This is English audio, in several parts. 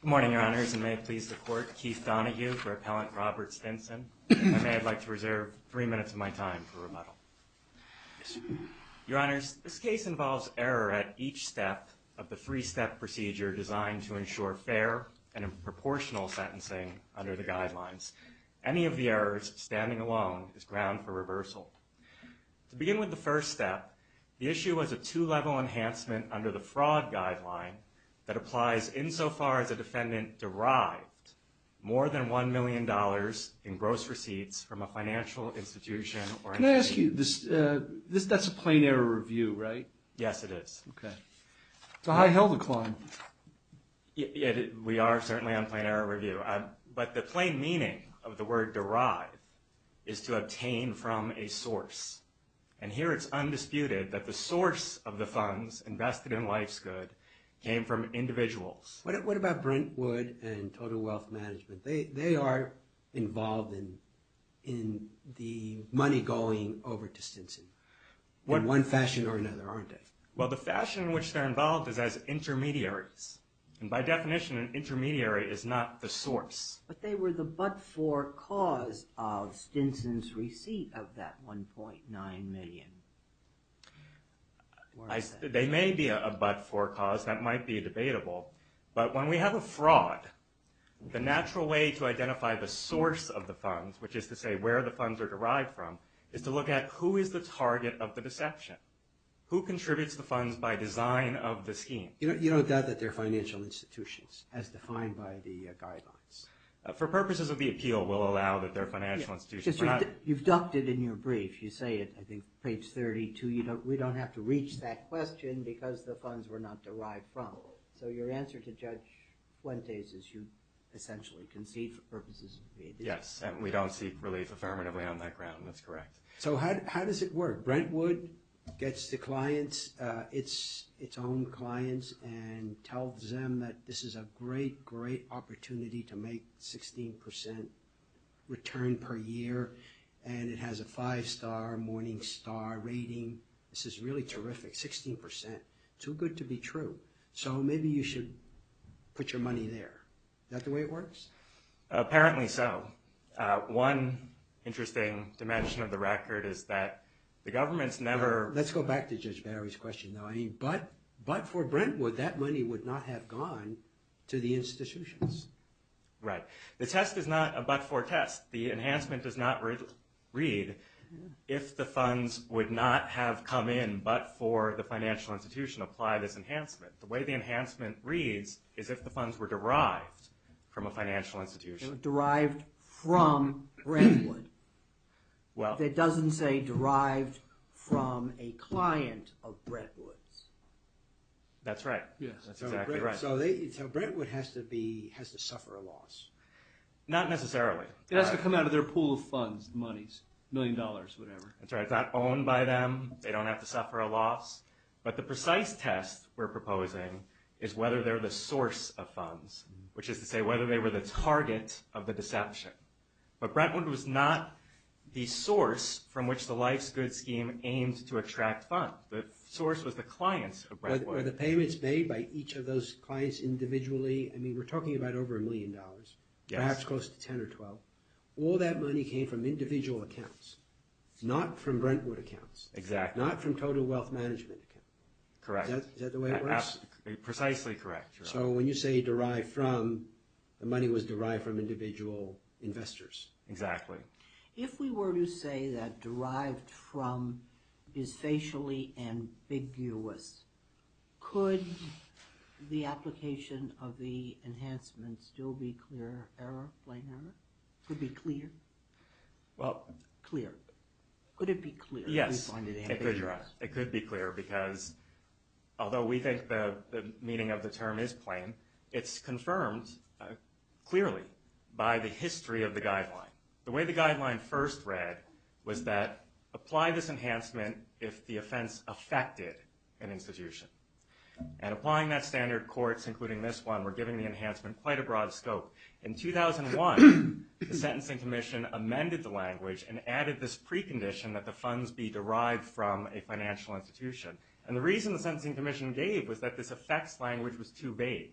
Good morning, Your Honors, and may it please the Court, Keith Donoghue for Appellant Robert Stinson. And may I'd like to reserve three minutes of my time for rebuttal. Your Honors, this case involves error at each step of the three-step procedure designed to ensure fair and proportional sentencing under the guidelines. Any of the errors, standing alone, is ground for reversal. To begin with the first step, the issue was a two-level enhancement under the fraud guideline that applies insofar as a defendant derived more than $1 million in gross receipts from a financial institution or entity. Can I ask you, that's a plain error review, right? Yes, it is. Okay. It's a high hell to climb. We are certainly on plain error review. But the plain meaning of the word derive is to obtain from a source. And here it's undisputed that the source of the funds invested in Life's Good came from individuals. What about Brentwood and Total Wealth Management? They are involved in the money going over to Stinson in one fashion or another, aren't they? Well, the fashion in which they're involved is as intermediaries. By definition, an intermediary is not the source. But they were the but-for cause of Stinson's receipt of that $1.9 million. They may be a but-for cause, that might be debatable. But when we have a fraud, the natural way to identify the source of the funds, which is to say where the funds are derived from, is to look at who is the target of the deception. Who contributes the funds by design of the scheme? You don't doubt that they're financial institutions, as defined by the guidelines? For purposes of the appeal, we'll allow that they're financial institutions. You've ducted in your brief. You say it, I think, page 32. We don't have to reach that question because the funds were not derived from. So your answer to Judge Fuentes is you essentially concede for purposes of the appeal. Yes, and we don't seek relief affirmatively on that ground. That's correct. So how does it work? Brentwood gets the clients, its own clients, and tells them that this is a great, great opportunity to make 16% return per year, and it has a five-star, morning star rating. This is really terrific, 16%, too good to be true. So maybe you should put your money there. Is that the way it works? Apparently so. One interesting dimension of the record is that the government's never- Let's go back to Judge Barry's question, though. But for Brentwood, that money would not have gone to the institutions. Right. The test is not a but-for test. The enhancement does not read if the funds would not have come in but for the financial institution, apply this enhancement. The way the enhancement reads is if the funds were derived from a financial institution. Derived from Brentwood that doesn't say derived from a client of Brentwood's. That's right. That's exactly right. So Brentwood has to suffer a loss. Not necessarily. It has to come out of their pool of funds, monies, a million dollars, whatever. That's right. It's not owned by them. They don't have to suffer a loss. But the precise test we're proposing is whether they're the source of funds, which is to say whether they were the target of the deception. But Brentwood was not the source from which the Life's Good scheme aimed to attract funds. The source was the clients of Brentwood. But the payments made by each of those clients individually, I mean, we're talking about over a million dollars. Yes. Perhaps close to 10 or 12. All that money came from individual accounts. Not from Brentwood accounts. Exactly. Not from total wealth management accounts. Correct. Is that the way it works? Precisely correct, Your Honor. So when you say derived from, the money was derived from individual investors. Exactly. If we were to say that derived from is facially ambiguous, could the application of the enhancements still be clear error, plain error? Could be clear? Well... Could it be clear? Yes. It could, Your Honor. because although we think the meaning of the term is plain, it's confirmed clearly by the history of the guideline. The way the guideline first read was that, apply this enhancement if the offense affected an institution. And applying that standard, courts, including this one, were giving the enhancement quite a broad scope. In 2001, the Sentencing Commission amended the language and added this precondition that the funds be derived from a financial institution. And the reason the Sentencing Commission gave was that this effects language was too vague.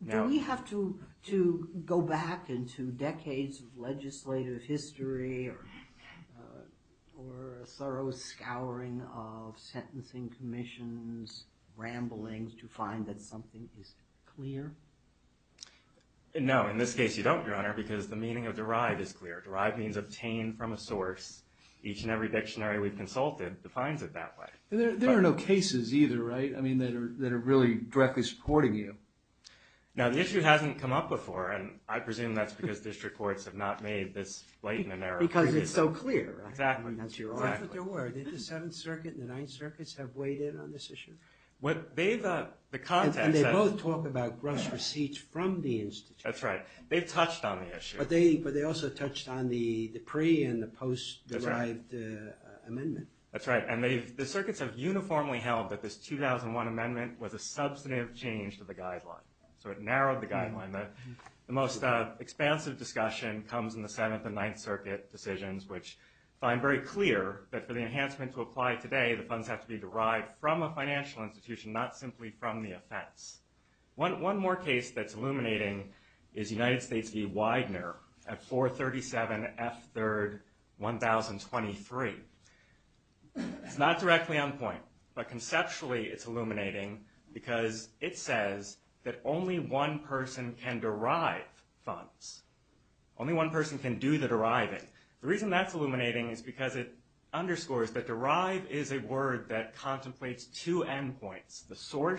Now... Do we have to go back into decades of legislative history or a thorough scouring of Sentencing Commission's ramblings to find that something is clear? No. In this case, you don't, Your Honor, because the meaning of derived is clear. Derived means obtained from a source. Each and every dictionary we've consulted defines it that way. There are no cases either, right? I mean, that are really directly supporting you. Now, the issue hasn't come up before, and I presume that's because district courts have not made this blatant error. Because it's so clear. Exactly. That's what they were. Didn't the Seventh Circuit and the Ninth Circuits have weighed in on this issue? What they've... The context... And they both talk about gross receipts from the institution. That's right. They've touched on the issue. But they also touched on the pre- and the post-derived amendment. That's right. And the circuits have uniformly held that this 2001 amendment was a substantive change to the guideline. So it narrowed the guideline. The most expansive discussion comes in the Seventh and Ninth Circuit decisions, which find very clear that for the enhancement to apply today, the funds have to be derived from a financial institution, not simply from the offense. One more case that's illuminating is United States v. Widener at 437 F3rd 1023. It's not directly on point, but conceptually it's illuminating because it says that only one person can derive funds. Only one person can do the deriving. The reason that's illuminating is because it underscores that derive is a word that So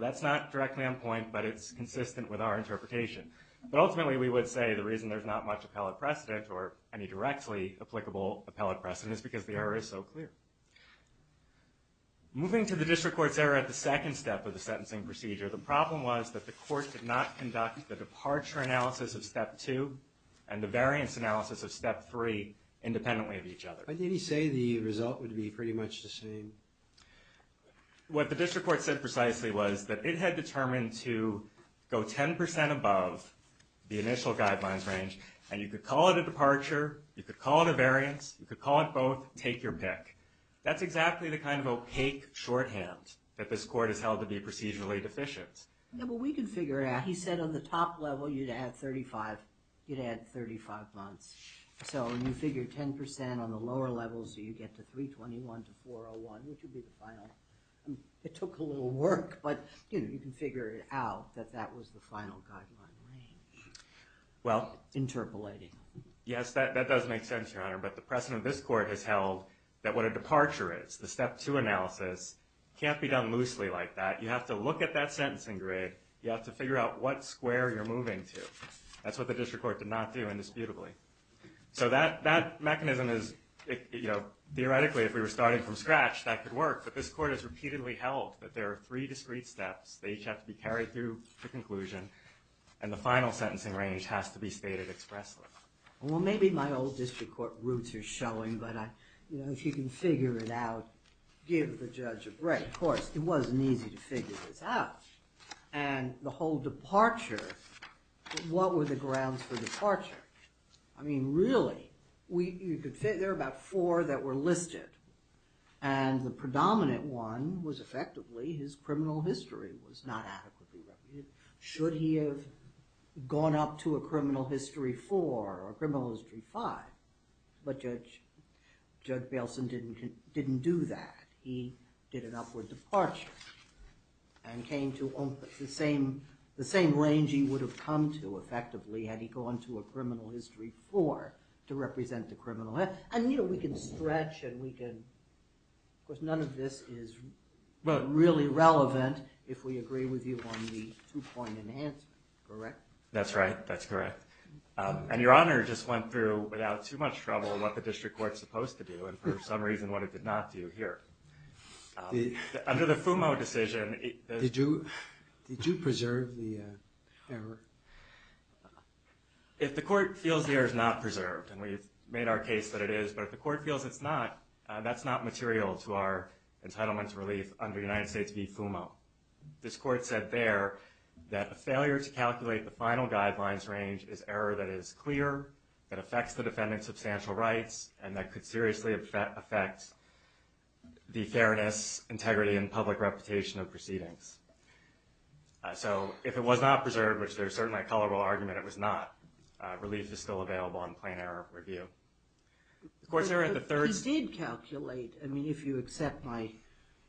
that's not directly on point, but it's consistent with our interpretation. But ultimately, we would say the reason there's not much appellate precedent or any directly applicable appellate precedent is because the error is so clear. Moving to the district court's error at the second step of the sentencing procedure, the problem was that the court did not conduct the departure analysis of Step 2 and the variance analysis of Step 3 independently of each other. But did he say the result would be pretty much the same? What the district court said precisely was that it had determined to go 10% above the initial guidelines range, and you could call it a departure, you could call it a variance, you could call it both, take your pick. That's exactly the kind of opaque shorthand that this court has held to be procedurally deficient. Yeah, but we can figure it out. He said on the top level, you'd add 35 months. So you figure 10% on the lower levels, you get to 321 to 401, which would be the final. It took a little work, but you can figure it out that that was the final guideline range. Interpolating. Yes, that does make sense, Your Honor. But the precedent this court has held that what a departure is, the Step 2 analysis, can't be done loosely like that. You have to look at that sentencing grid. You have to figure out what square you're moving to. That's what the district court did not do indisputably. So that mechanism is, theoretically, if we were starting from scratch, that could work. But this court has repeatedly held that there are three discrete steps. They each have to be carried through to conclusion, and the final sentencing range has to be stated expressly. Well, maybe my old district court roots are showing, but if you can figure it out, give the judge a break. Of course, it wasn't easy to figure this out. And the whole departure, what were the grounds for departure? I mean, really, you could figure about four that were listed, and the predominant one was, effectively, his criminal history was not adequately represented. Should he have gone up to a criminal history four or a criminal history five? But Judge Bailson didn't do that. He did an upward departure and came to the same range he would have come to, effectively, had he gone to a criminal history four to represent the criminal. And we can stretch, and we can, of course, none of this is really relevant if we agree with you on the two-point enhancement, correct? That's right. That's correct. And Your Honor just went through, without too much trouble, what the district court was supposed to do and, for some reason, what it did not do here. Under the FUMO decision... Did you preserve the error? If the court feels the error is not preserved, and we've made our case that it is, but if the court feels it's not, that's not material to our entitlement to relief under United States v. FUMO. This court said there that a failure to calculate the final guidelines range is error that is could seriously affect the fairness, integrity, and public reputation of proceedings. So, if it was not preserved, which there's certainly a colorable argument it was not, relief is still available in plain error review. Of course, there are the third... He did calculate. I mean, if you accept my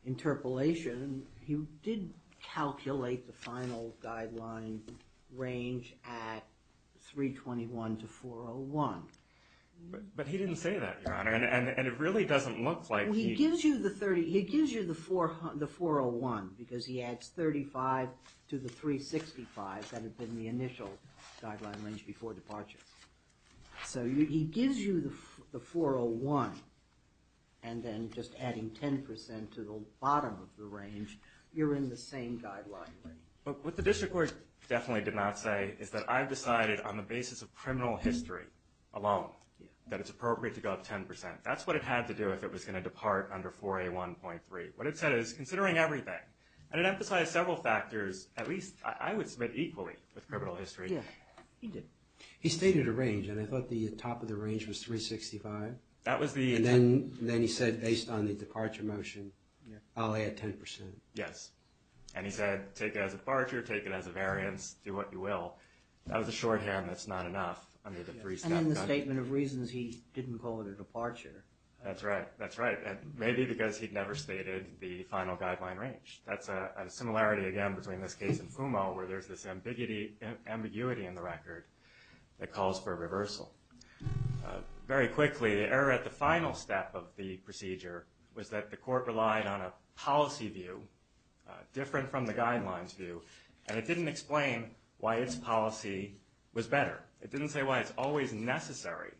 interpolation, he did calculate the final guideline range at 321 to 401. But he didn't say that, Your Honor. And it really doesn't look like he... He gives you the 401, because he adds 35 to the 365 that had been the initial guideline range before departure. So, he gives you the 401, and then just adding 10% to the bottom of the range, you're in the same guideline range. But what the district court definitely did not say is that I've decided on the basis of criminal history alone that it's appropriate to go up 10%. That's what it had to do if it was going to depart under 401.3. What it said is, considering everything, and it emphasized several factors, at least I would submit equally with criminal history. He did. He stated a range, and I thought the top of the range was 365. That was the... And then he said, based on the departure motion, I'll add 10%. Yes. And he said, take it as a departure, take it as a variance, do what you will. That was a shorthand that's not enough under the three-step... And in the statement of reasons, he didn't call it a departure. That's right. That's right. Maybe because he'd never stated the final guideline range. That's a similarity, again, between this case and Fumo, where there's this ambiguity in the record that calls for a reversal. Very quickly, the error at the final step of the procedure was that the court relied on a policy view different from the guidelines view, and it didn't explain why its policy was better. It didn't say why it's always necessary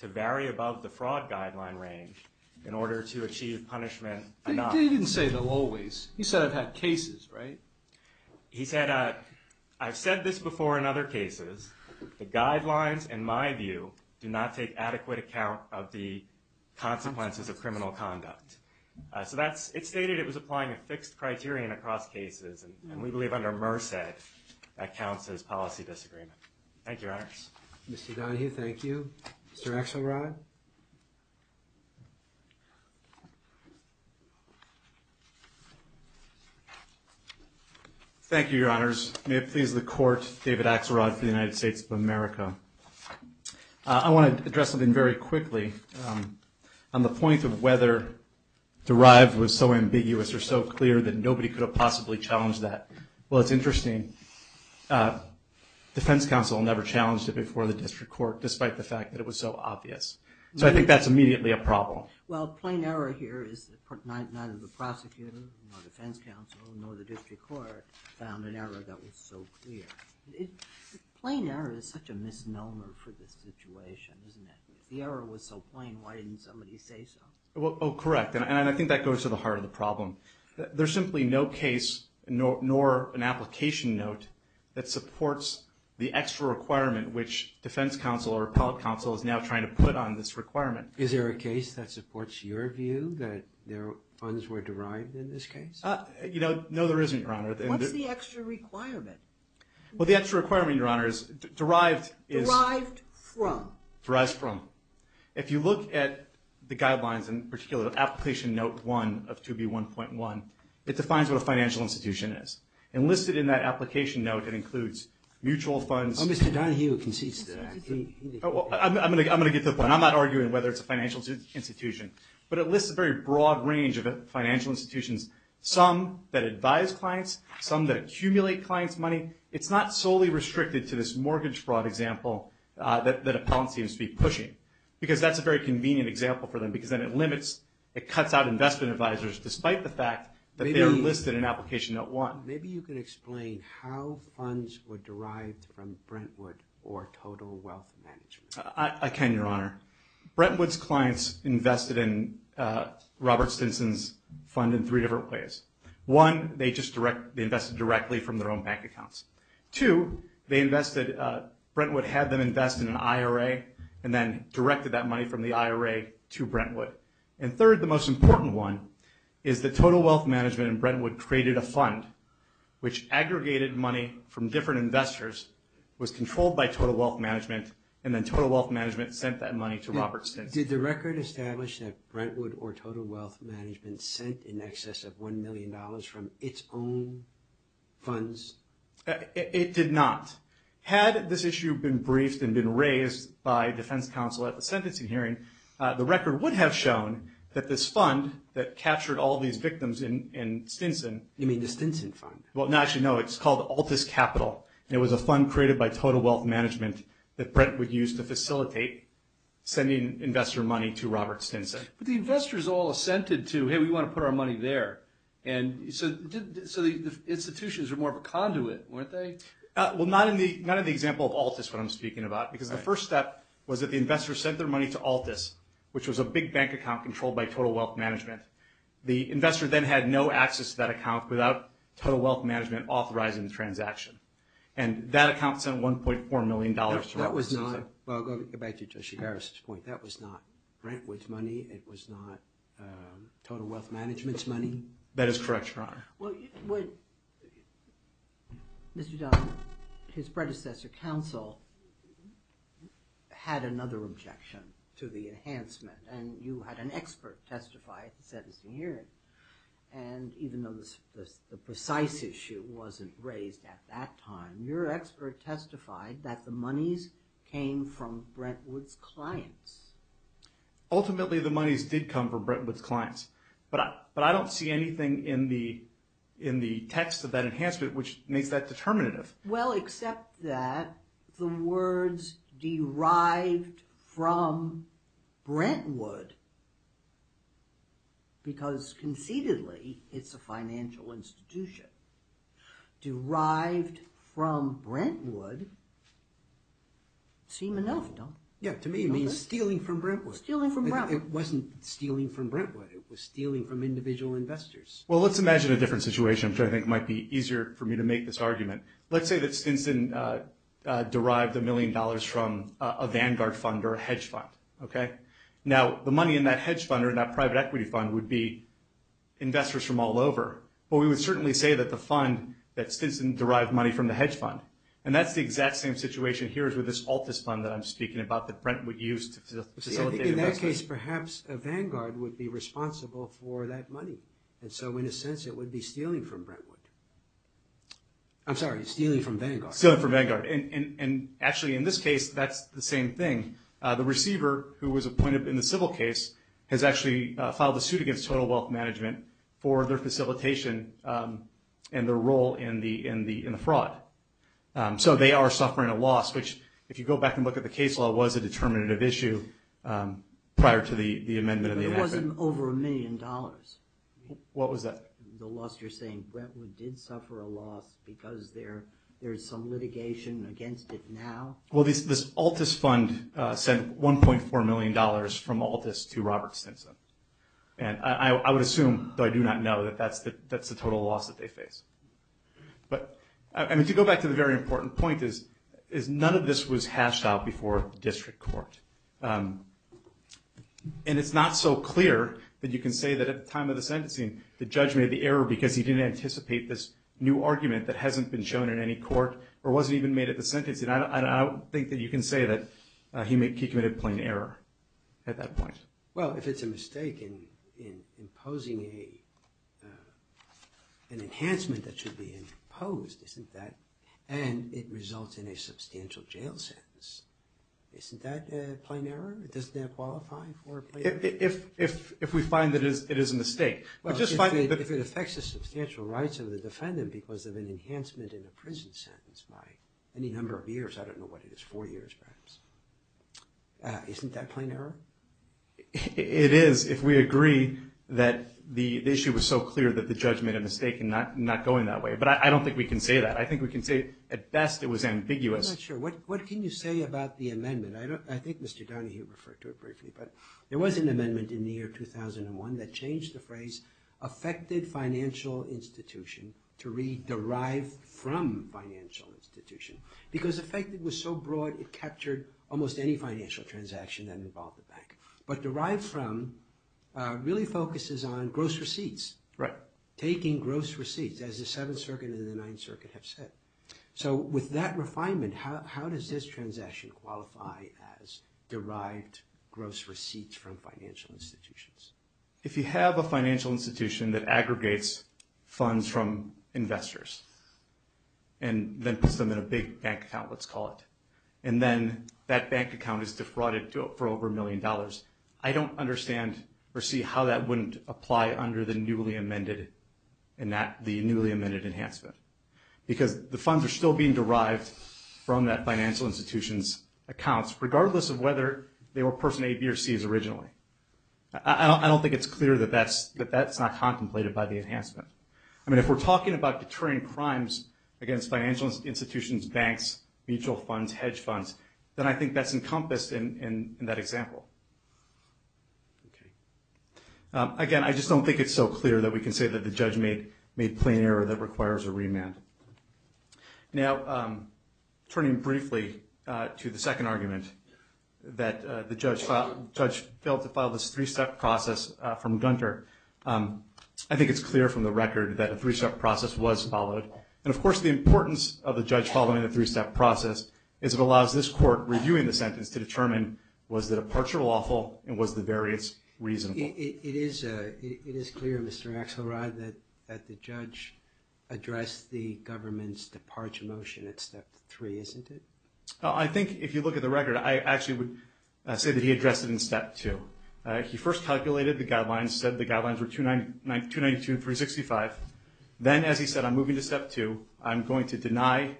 to vary above the fraud guideline range in order to achieve punishment enough. He didn't say the always. He said it had cases, right? He said, I've said this before in other cases. The guidelines, in my view, do not take adequate account of the consequences of criminal conduct. It stated it was applying a fixed criterion across cases, and we believe under Merced that counts as policy disagreement. Thank you, Your Honors. Mr. Donohue, thank you. Mr. Axelrod? Thank you, Your Honors. May it please the Court, David Axelrod for the United States of America. I want to address something very quickly. On the point of whether derive was so ambiguous or so clear that nobody could have possibly challenged that. Well, it's interesting. Defense counsel never challenged it before the district court, despite the fact that it was so obvious. So I think that's immediately a problem. Well, plain error here is neither the prosecutor nor defense counsel nor the district court found an error that was so clear. Plain error is such a misnomer for this situation, isn't it? If the error was so plain, why didn't somebody say so? Oh, correct. And I think that goes to the heart of the problem. There's simply no case, nor an application note, that supports the extra requirement which defense counsel or appellate counsel is now trying to put on this requirement. Is there a case that supports your view that funds were derived in this case? You know, no, there isn't, Your Honor. What's the extra requirement? Well, the extra requirement, Your Honors, derived is... Derived from? Derived from. If you look at the guidelines, in particular, Application Note 1 of 2B1.1, it defines what a financial institution is. And listed in that application note, it includes mutual funds... Mr. Donahue concedes to that. I'm going to get to the point. I'm not arguing whether it's a financial institution. But it lists a very broad range of financial institutions, some that advise clients, some that accumulate clients' money. It's not solely restricted to this mortgage fraud example that Appellant seems to be pushing. Because that's a very convenient example for them. Because then it limits, it cuts out investment advisors, despite the fact that they are listed in Application Note 1. Maybe you can explain how funds were derived from Brentwood or Total Wealth Management. I can, Your Honor. Brentwood's clients invested in Robert Stinson's fund in three different ways. One, they invested directly from their own bank accounts. Two, Brentwood had them invest in an IRA and then directed that money from the IRA to Brentwood. And third, the most important one, is that Total Wealth Management and Brentwood created a fund which aggregated money from different investors, was controlled by Total Wealth Management, and then Total Wealth Management sent that money to Robert Stinson. Did the record establish that Brentwood or Total Wealth Management sent in excess of $1 million from its own funds? It did not. Had this issue been briefed and been raised by defense counsel at the sentencing hearing, the record would have shown that this fund that captured all these victims in Stinson. You mean the Stinson fund? Well, no. Actually, no. It's called Altus Capital. And it was a fund created by Total Wealth Management that Brentwood used to facilitate sending investor money to Robert Stinson. But the investors all assented to, hey, we want to put our money there. And so the institutions were more of a conduit, weren't they? Well, not in the example of Altus, what I'm speaking about. Because the first step was that the investors sent their money to Altus, which was a big bank account controlled by Total Wealth Management. The investor then had no access to that account without Total Wealth Management authorizing the transaction. And that account sent $1.4 million to Robert Stinson. That was not, well, I'll go back to Justice Harris' point. That was not Brentwood's money. It was not Total Wealth Management's money. That is correct, Your Honor. Mr. Dunn, his predecessor counsel had another objection to the enhancement. And you had an expert testify at the sentencing hearing. And even though the precise issue wasn't raised at that time, your expert testified that the monies came from Brentwood's clients. Ultimately, the monies did come from Brentwood's clients. But I don't see anything in the text of that enhancement which makes that determinative. Well, except that the words derived from Brentwood, because conceitedly it's a financial institution, derived from Brentwood seem enough, don't they? Yeah, to me it means stealing from Brentwood. Stealing from Brentwood. It wasn't stealing from Brentwood. It was stealing from individual investors. Well, let's imagine a different situation, which I think might be easier for me to make this argument. Let's say that Stinson derived $1 million from a Vanguard fund or a hedge fund. Now, the money in that hedge fund or that private equity fund would be investors from all over. But we would certainly say that the fund, that Stinson derived money from the hedge fund. And that's the exact same situation here as with this Altus fund that I'm speaking about that Brentwood used to facilitate investment. In that case, perhaps a Vanguard would be responsible for that money. And so, in a sense, it would be stealing from Brentwood. I'm sorry, stealing from Vanguard. Stealing from Vanguard. And actually, in this case, that's the same thing. The receiver, who was appointed in the civil case, has actually filed a suit against Total Wealth Management for their facilitation and their role in the fraud. So they are suffering a loss, which, if you go back and look at the case law, was a determinative issue prior to the amendment of the enactment. But it wasn't over $1 million. What was that? The loss you're saying. Brentwood did suffer a loss because there's some litigation against it now. Well, this Altus fund sent $1.4 million from Altus to Robert Stinson. And I would assume, though I do not know, that that's the total loss that they face. But, I mean, to go back to the very important point, is none of this was hashed out before district court. And it's not so clear that you can say that at the time of the sentencing, the judge made the error because he didn't anticipate this new argument that hasn't been shown in any court or wasn't even made at the sentencing. And I don't think that you can say that he committed plain error at that point. Well, if it's a mistake in imposing an enhancement that should be imposed, isn't that, and it results in a substantial jail sentence, isn't that a plain error? Doesn't that qualify for a plain error? If we find that it is a mistake. in a prison sentence by any number of years, I don't know what it is, four years perhaps. Isn't that plain error? It is if we agree that the issue was so clear that the judge made a mistake in not going that way. But I don't think we can say that. I think we can say at best it was ambiguous. I'm not sure. What can you say about the amendment? I think Mr. Donahue referred to it briefly. But there was an amendment in the year 2001 that changed the phrase affected financial institution to read derived from financial institution. Because affected was so broad it captured almost any financial transaction that involved a bank. But derived from really focuses on gross receipts. Right. Taking gross receipts as the Seventh Circuit and the Ninth Circuit have said. So with that refinement, how does this transaction qualify as derived gross receipts from financial institutions? If you have a financial institution that aggregates funds from investors and then puts them in a big bank account, let's call it, and then that bank account is defrauded for over a million dollars, I don't understand or see how that wouldn't apply under the newly amended and not the newly amended enhancement. Because the funds are still being derived from that financial institution's accounts, regardless of whether they were person A, B, or Cs originally. I don't think it's clear that that's not contemplated by the enhancement. I mean, if we're talking about deterring crimes against financial institutions, banks, mutual funds, hedge funds, then I think that's encompassed in that example. Again, I just don't think it's so clear that we can say that the judge made plain error that requires a remand. Now, turning briefly to the second argument that the judge failed to file this three-step process from Gunter, I think it's clear from the record that a three-step process was followed. And, of course, the importance of the judge following the three-step process is it allows this court reviewing the sentence to determine was the departure lawful and was the variance reasonable. It is clear, Mr. Axelrod, that the judge addressed the government's departure motion at step three, isn't it? I think, if you look at the record, I actually would say that he addressed it in step two. He first calculated the guidelines, said the guidelines were 292 and 365. Then, as he said, I'm moving to step two. I'm going to deny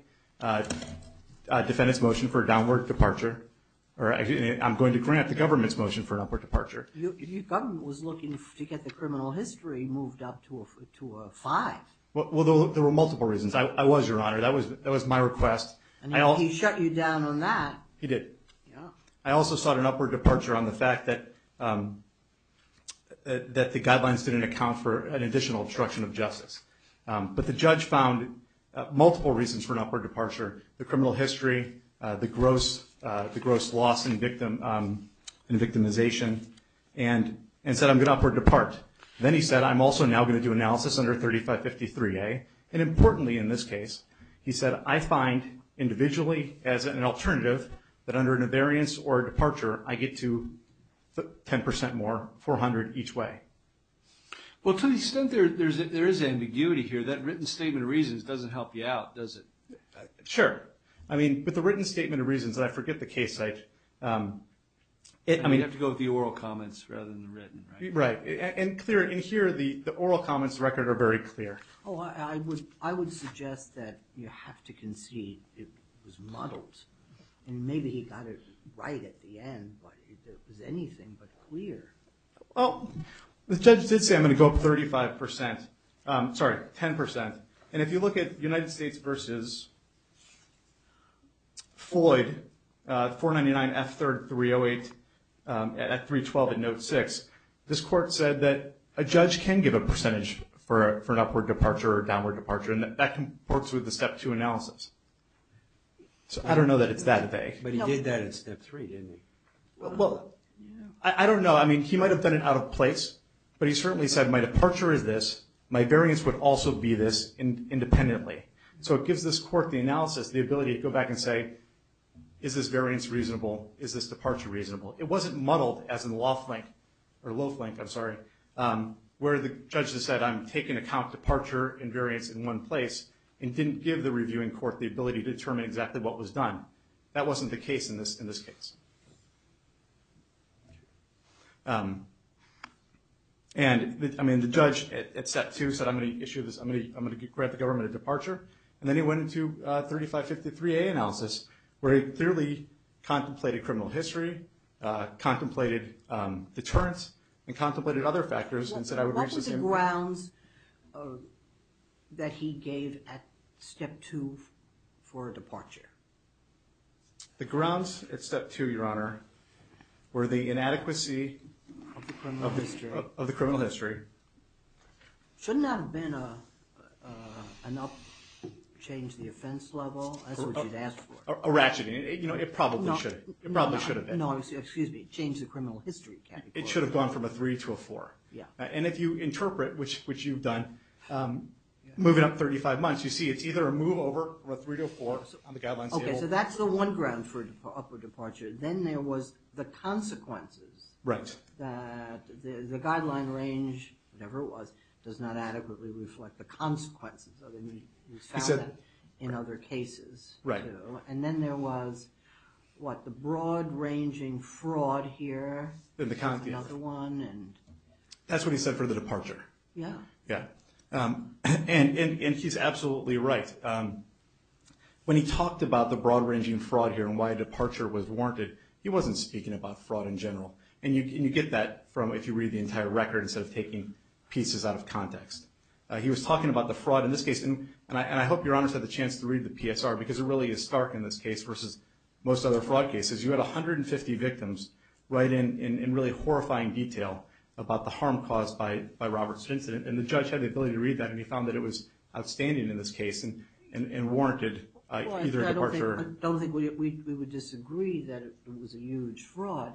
defendants' motion for a downward departure. I'm going to grant the government's motion for an upward departure. Your government was looking to get the criminal history moved up to a five. Well, there were multiple reasons. I was, Your Honor. That was my request. He shut you down on that. He did. I also sought an upward departure on the fact that the guidelines didn't account for an additional obstruction of justice. But the judge found multiple reasons for an upward departure. The criminal history, the gross loss and victimization, and said, I'm going to upward depart. Then he said, I'm also now going to do analysis under 3553A. Importantly, in this case, he said, I find, individually, as an alternative, that under a variance or a departure, I get to 10% more, 400 each way. Well, to an extent, there is ambiguity here. That written statement of reasons doesn't help you out, does it? Sure. I mean, with the written statement of reasons, I forget the case site. I mean, you have to go with the oral comments rather than the written, right? Right. And here, the oral comments record are very clear. Oh, I would suggest that you have to concede it was muddled. And maybe he got it right at the end, but it was anything but clear. Well, the judge did say, I'm going to go up 35%. Sorry, 10%. And if you look at United States versus Floyd, 499F3308 at 312 at note 6, this court said that a judge can give a percentage for an upward departure or downward departure, and that works with the step two analysis. So I don't know that it's that vague. But he did that in step three, didn't he? Well, I don't know. I mean, he might have done it out of place. But he certainly said, my departure is this. My variance would also be this independently. So it gives this court the analysis, the ability to go back and say, is this variance reasonable? Is this departure reasonable? It wasn't muddled as in the low flank where the judge has said, I'm taking account departure and variance in one place and didn't give the reviewing court the ability to determine exactly what was done. That wasn't the case in this case. And, I mean, the judge at step two said, I'm going to issue this. I'm going to grant the government a departure. And then he went into 3553A analysis, where he clearly contemplated criminal history, contemplated deterrence, and contemplated other factors and said, What was the grounds that he gave at step two for a departure? The grounds at step two, Your Honor, were the inadequacy of the criminal history. Shouldn't that have been an up, change the offense level? That's what you'd ask for. A ratcheting. You know, it probably should have been. No, excuse me. Change the criminal history category. It should have gone from a three to a four. Yeah. And if you interpret, which you've done, moving up 35 months, you see it's either a move over or a three to a four on the guidelines table. Okay, so that's the one ground for upward departure. Then there was the consequences. Right. That the guideline range, whatever it was, does not adequately reflect the consequences of any result in other cases. Right. And then there was, what, the broad ranging fraud here. Another one. That's what he said for the departure. Yeah. Yeah. And he's absolutely right. When he talked about the broad ranging fraud here and why departure was warranted, he wasn't speaking about fraud in general. And you get that from, if you read the entire record, instead of taking pieces out of context. He was talking about the fraud in this case, and I hope Your Honor's had the chance to read the PSR, because it really is stark in this case versus most other fraud cases. You had 150 victims right in really horrifying detail about the harm caused by Robert's incident. And the judge had the ability to read that, and he found that it was outstanding in this case and warranted either departure. I don't think we would disagree that it was a huge fraud.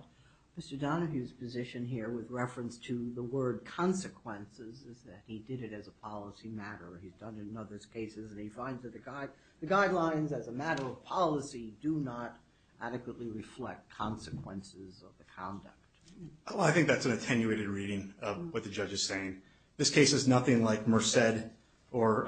Mr. Donahue's position here with reference to the word consequences is that he did it as a policy matter. He's done it in other cases, and he finds that the guidelines as a matter of policy do not adequately reflect consequences of the conduct. Well, I think that's an attenuated reading of what the judge is saying. This case is nothing like Merced or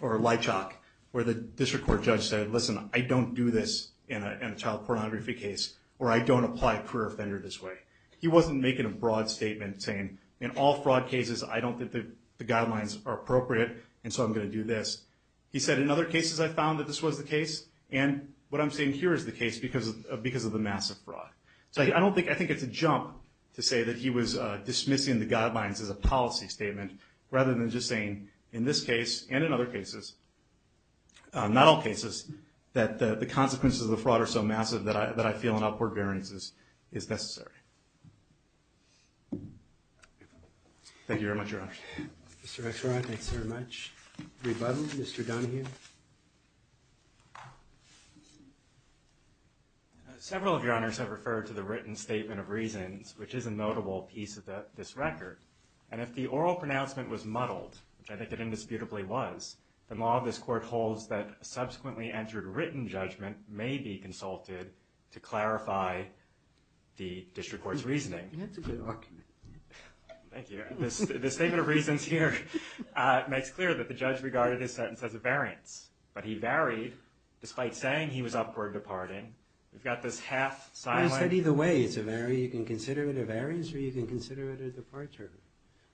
Lychok, where the district court judge said, listen, I don't do this in a child pornography case, or I don't apply a career offender this way. He wasn't making a broad statement saying, in all fraud cases, I don't think the guidelines are appropriate, and so I'm going to do this. He said, in other cases, I found that this was the case, and what I'm saying here is the case because of the massive fraud. So I think it's a jump to say that he was dismissing the guidelines as a policy statement rather than just saying, in this case and in other cases, not all cases, that the consequences of the fraud are so massive Thank you very much, Your Honor. Mr. Rexroth, thanks very much. Rebuttal, Mr. Dunne here. Several of Your Honors have referred to the written statement of reasons, which is a notable piece of this record, and if the oral pronouncement was muddled, which I think it indisputably was, the law of this court holds that subsequently entered written judgment may be consulted to clarify the district court's reasoning. Thank you. The statement of reasons here makes clear that the judge regarded his sentence as a variance, but he varied despite saying he was upward departing. We've got this half-silent... Well, he said either way it's a variance. You can consider it a variance or you can consider it a departure,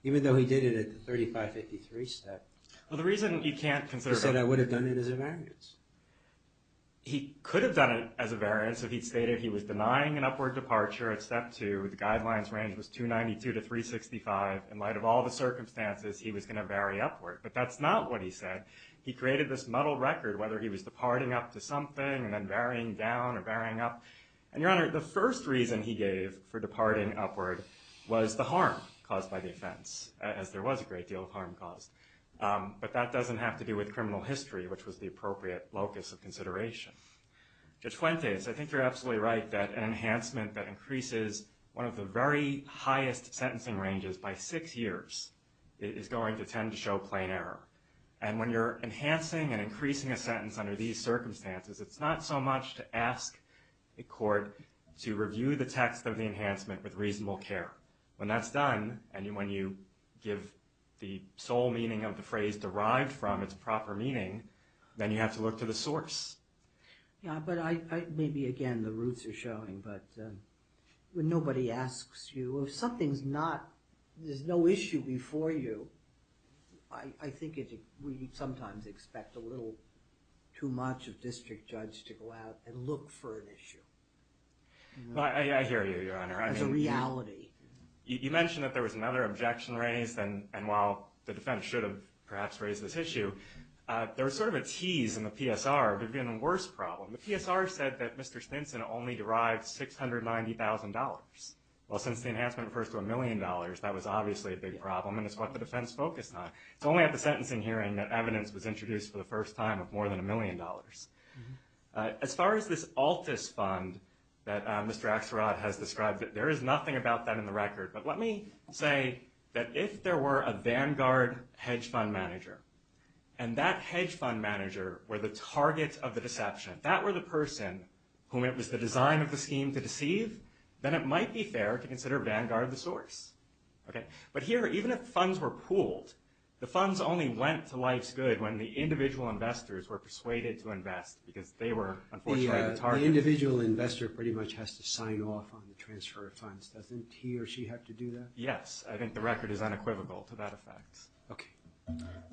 even though he did it at the 3553 step. Well, the reason you can't consider... He said I would have done it as a variance. He could have done it as a variance if he'd stated he was denying an upward departure at step two and the guidelines range was 292 to 365. In light of all the circumstances, he was going to vary upward, but that's not what he said. He created this muddled record, whether he was departing up to something and then varying down or varying up. And, Your Honor, the first reason he gave for departing upward was the harm caused by the offense, as there was a great deal of harm caused. But that doesn't have to do with criminal history, which was the appropriate locus of consideration. Judge Fuentes, I think you're absolutely right that an enhancement that increases one of the very highest sentencing ranges by six years is going to tend to show plain error. And when you're enhancing and increasing a sentence under these circumstances, it's not so much to ask a court to review the text of the enhancement with reasonable care. When that's done, and when you give the sole meaning of the phrase derived from its proper meaning, then you have to look to the source. Yeah, but maybe, again, the roots are showing, but when nobody asks you, if something's not, there's no issue before you, I think we sometimes expect a little too much of district judge to go out and look for an issue. I hear you, Your Honor. As a reality. You mentioned that there was another objection raised, and while the defense should have perhaps raised this issue, there was sort of a tease in the PSR of it being the worst problem. The PSR said that Mr. Stinson only derived $690,000. Well, since the enhancement refers to a million dollars, that was obviously a big problem, and it's what the defense focused on. It's only at the sentencing hearing that evidence was introduced for the first time of more than a million dollars. As far as this Altus Fund that Mr. Axelrod has described, there is nothing about that in the record, but let me say that if there were a Vanguard hedge fund manager and that hedge fund manager were the target of the deception, that were the person whom it was the design of the scheme to deceive, then it might be fair to consider Vanguard the source. But here, even if funds were pooled, the funds only went to life's good when the individual investors were persuaded to invest because they were, unfortunately, the target. The individual investor pretty much has to sign off on the transfer of funds. Doesn't he or she have to do that? Yes, I think the record is unequivocal to that effect. Okay.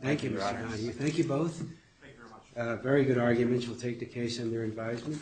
Thank you. Thank you both. Thank you very much. Very good arguments. We'll take the case under advisement.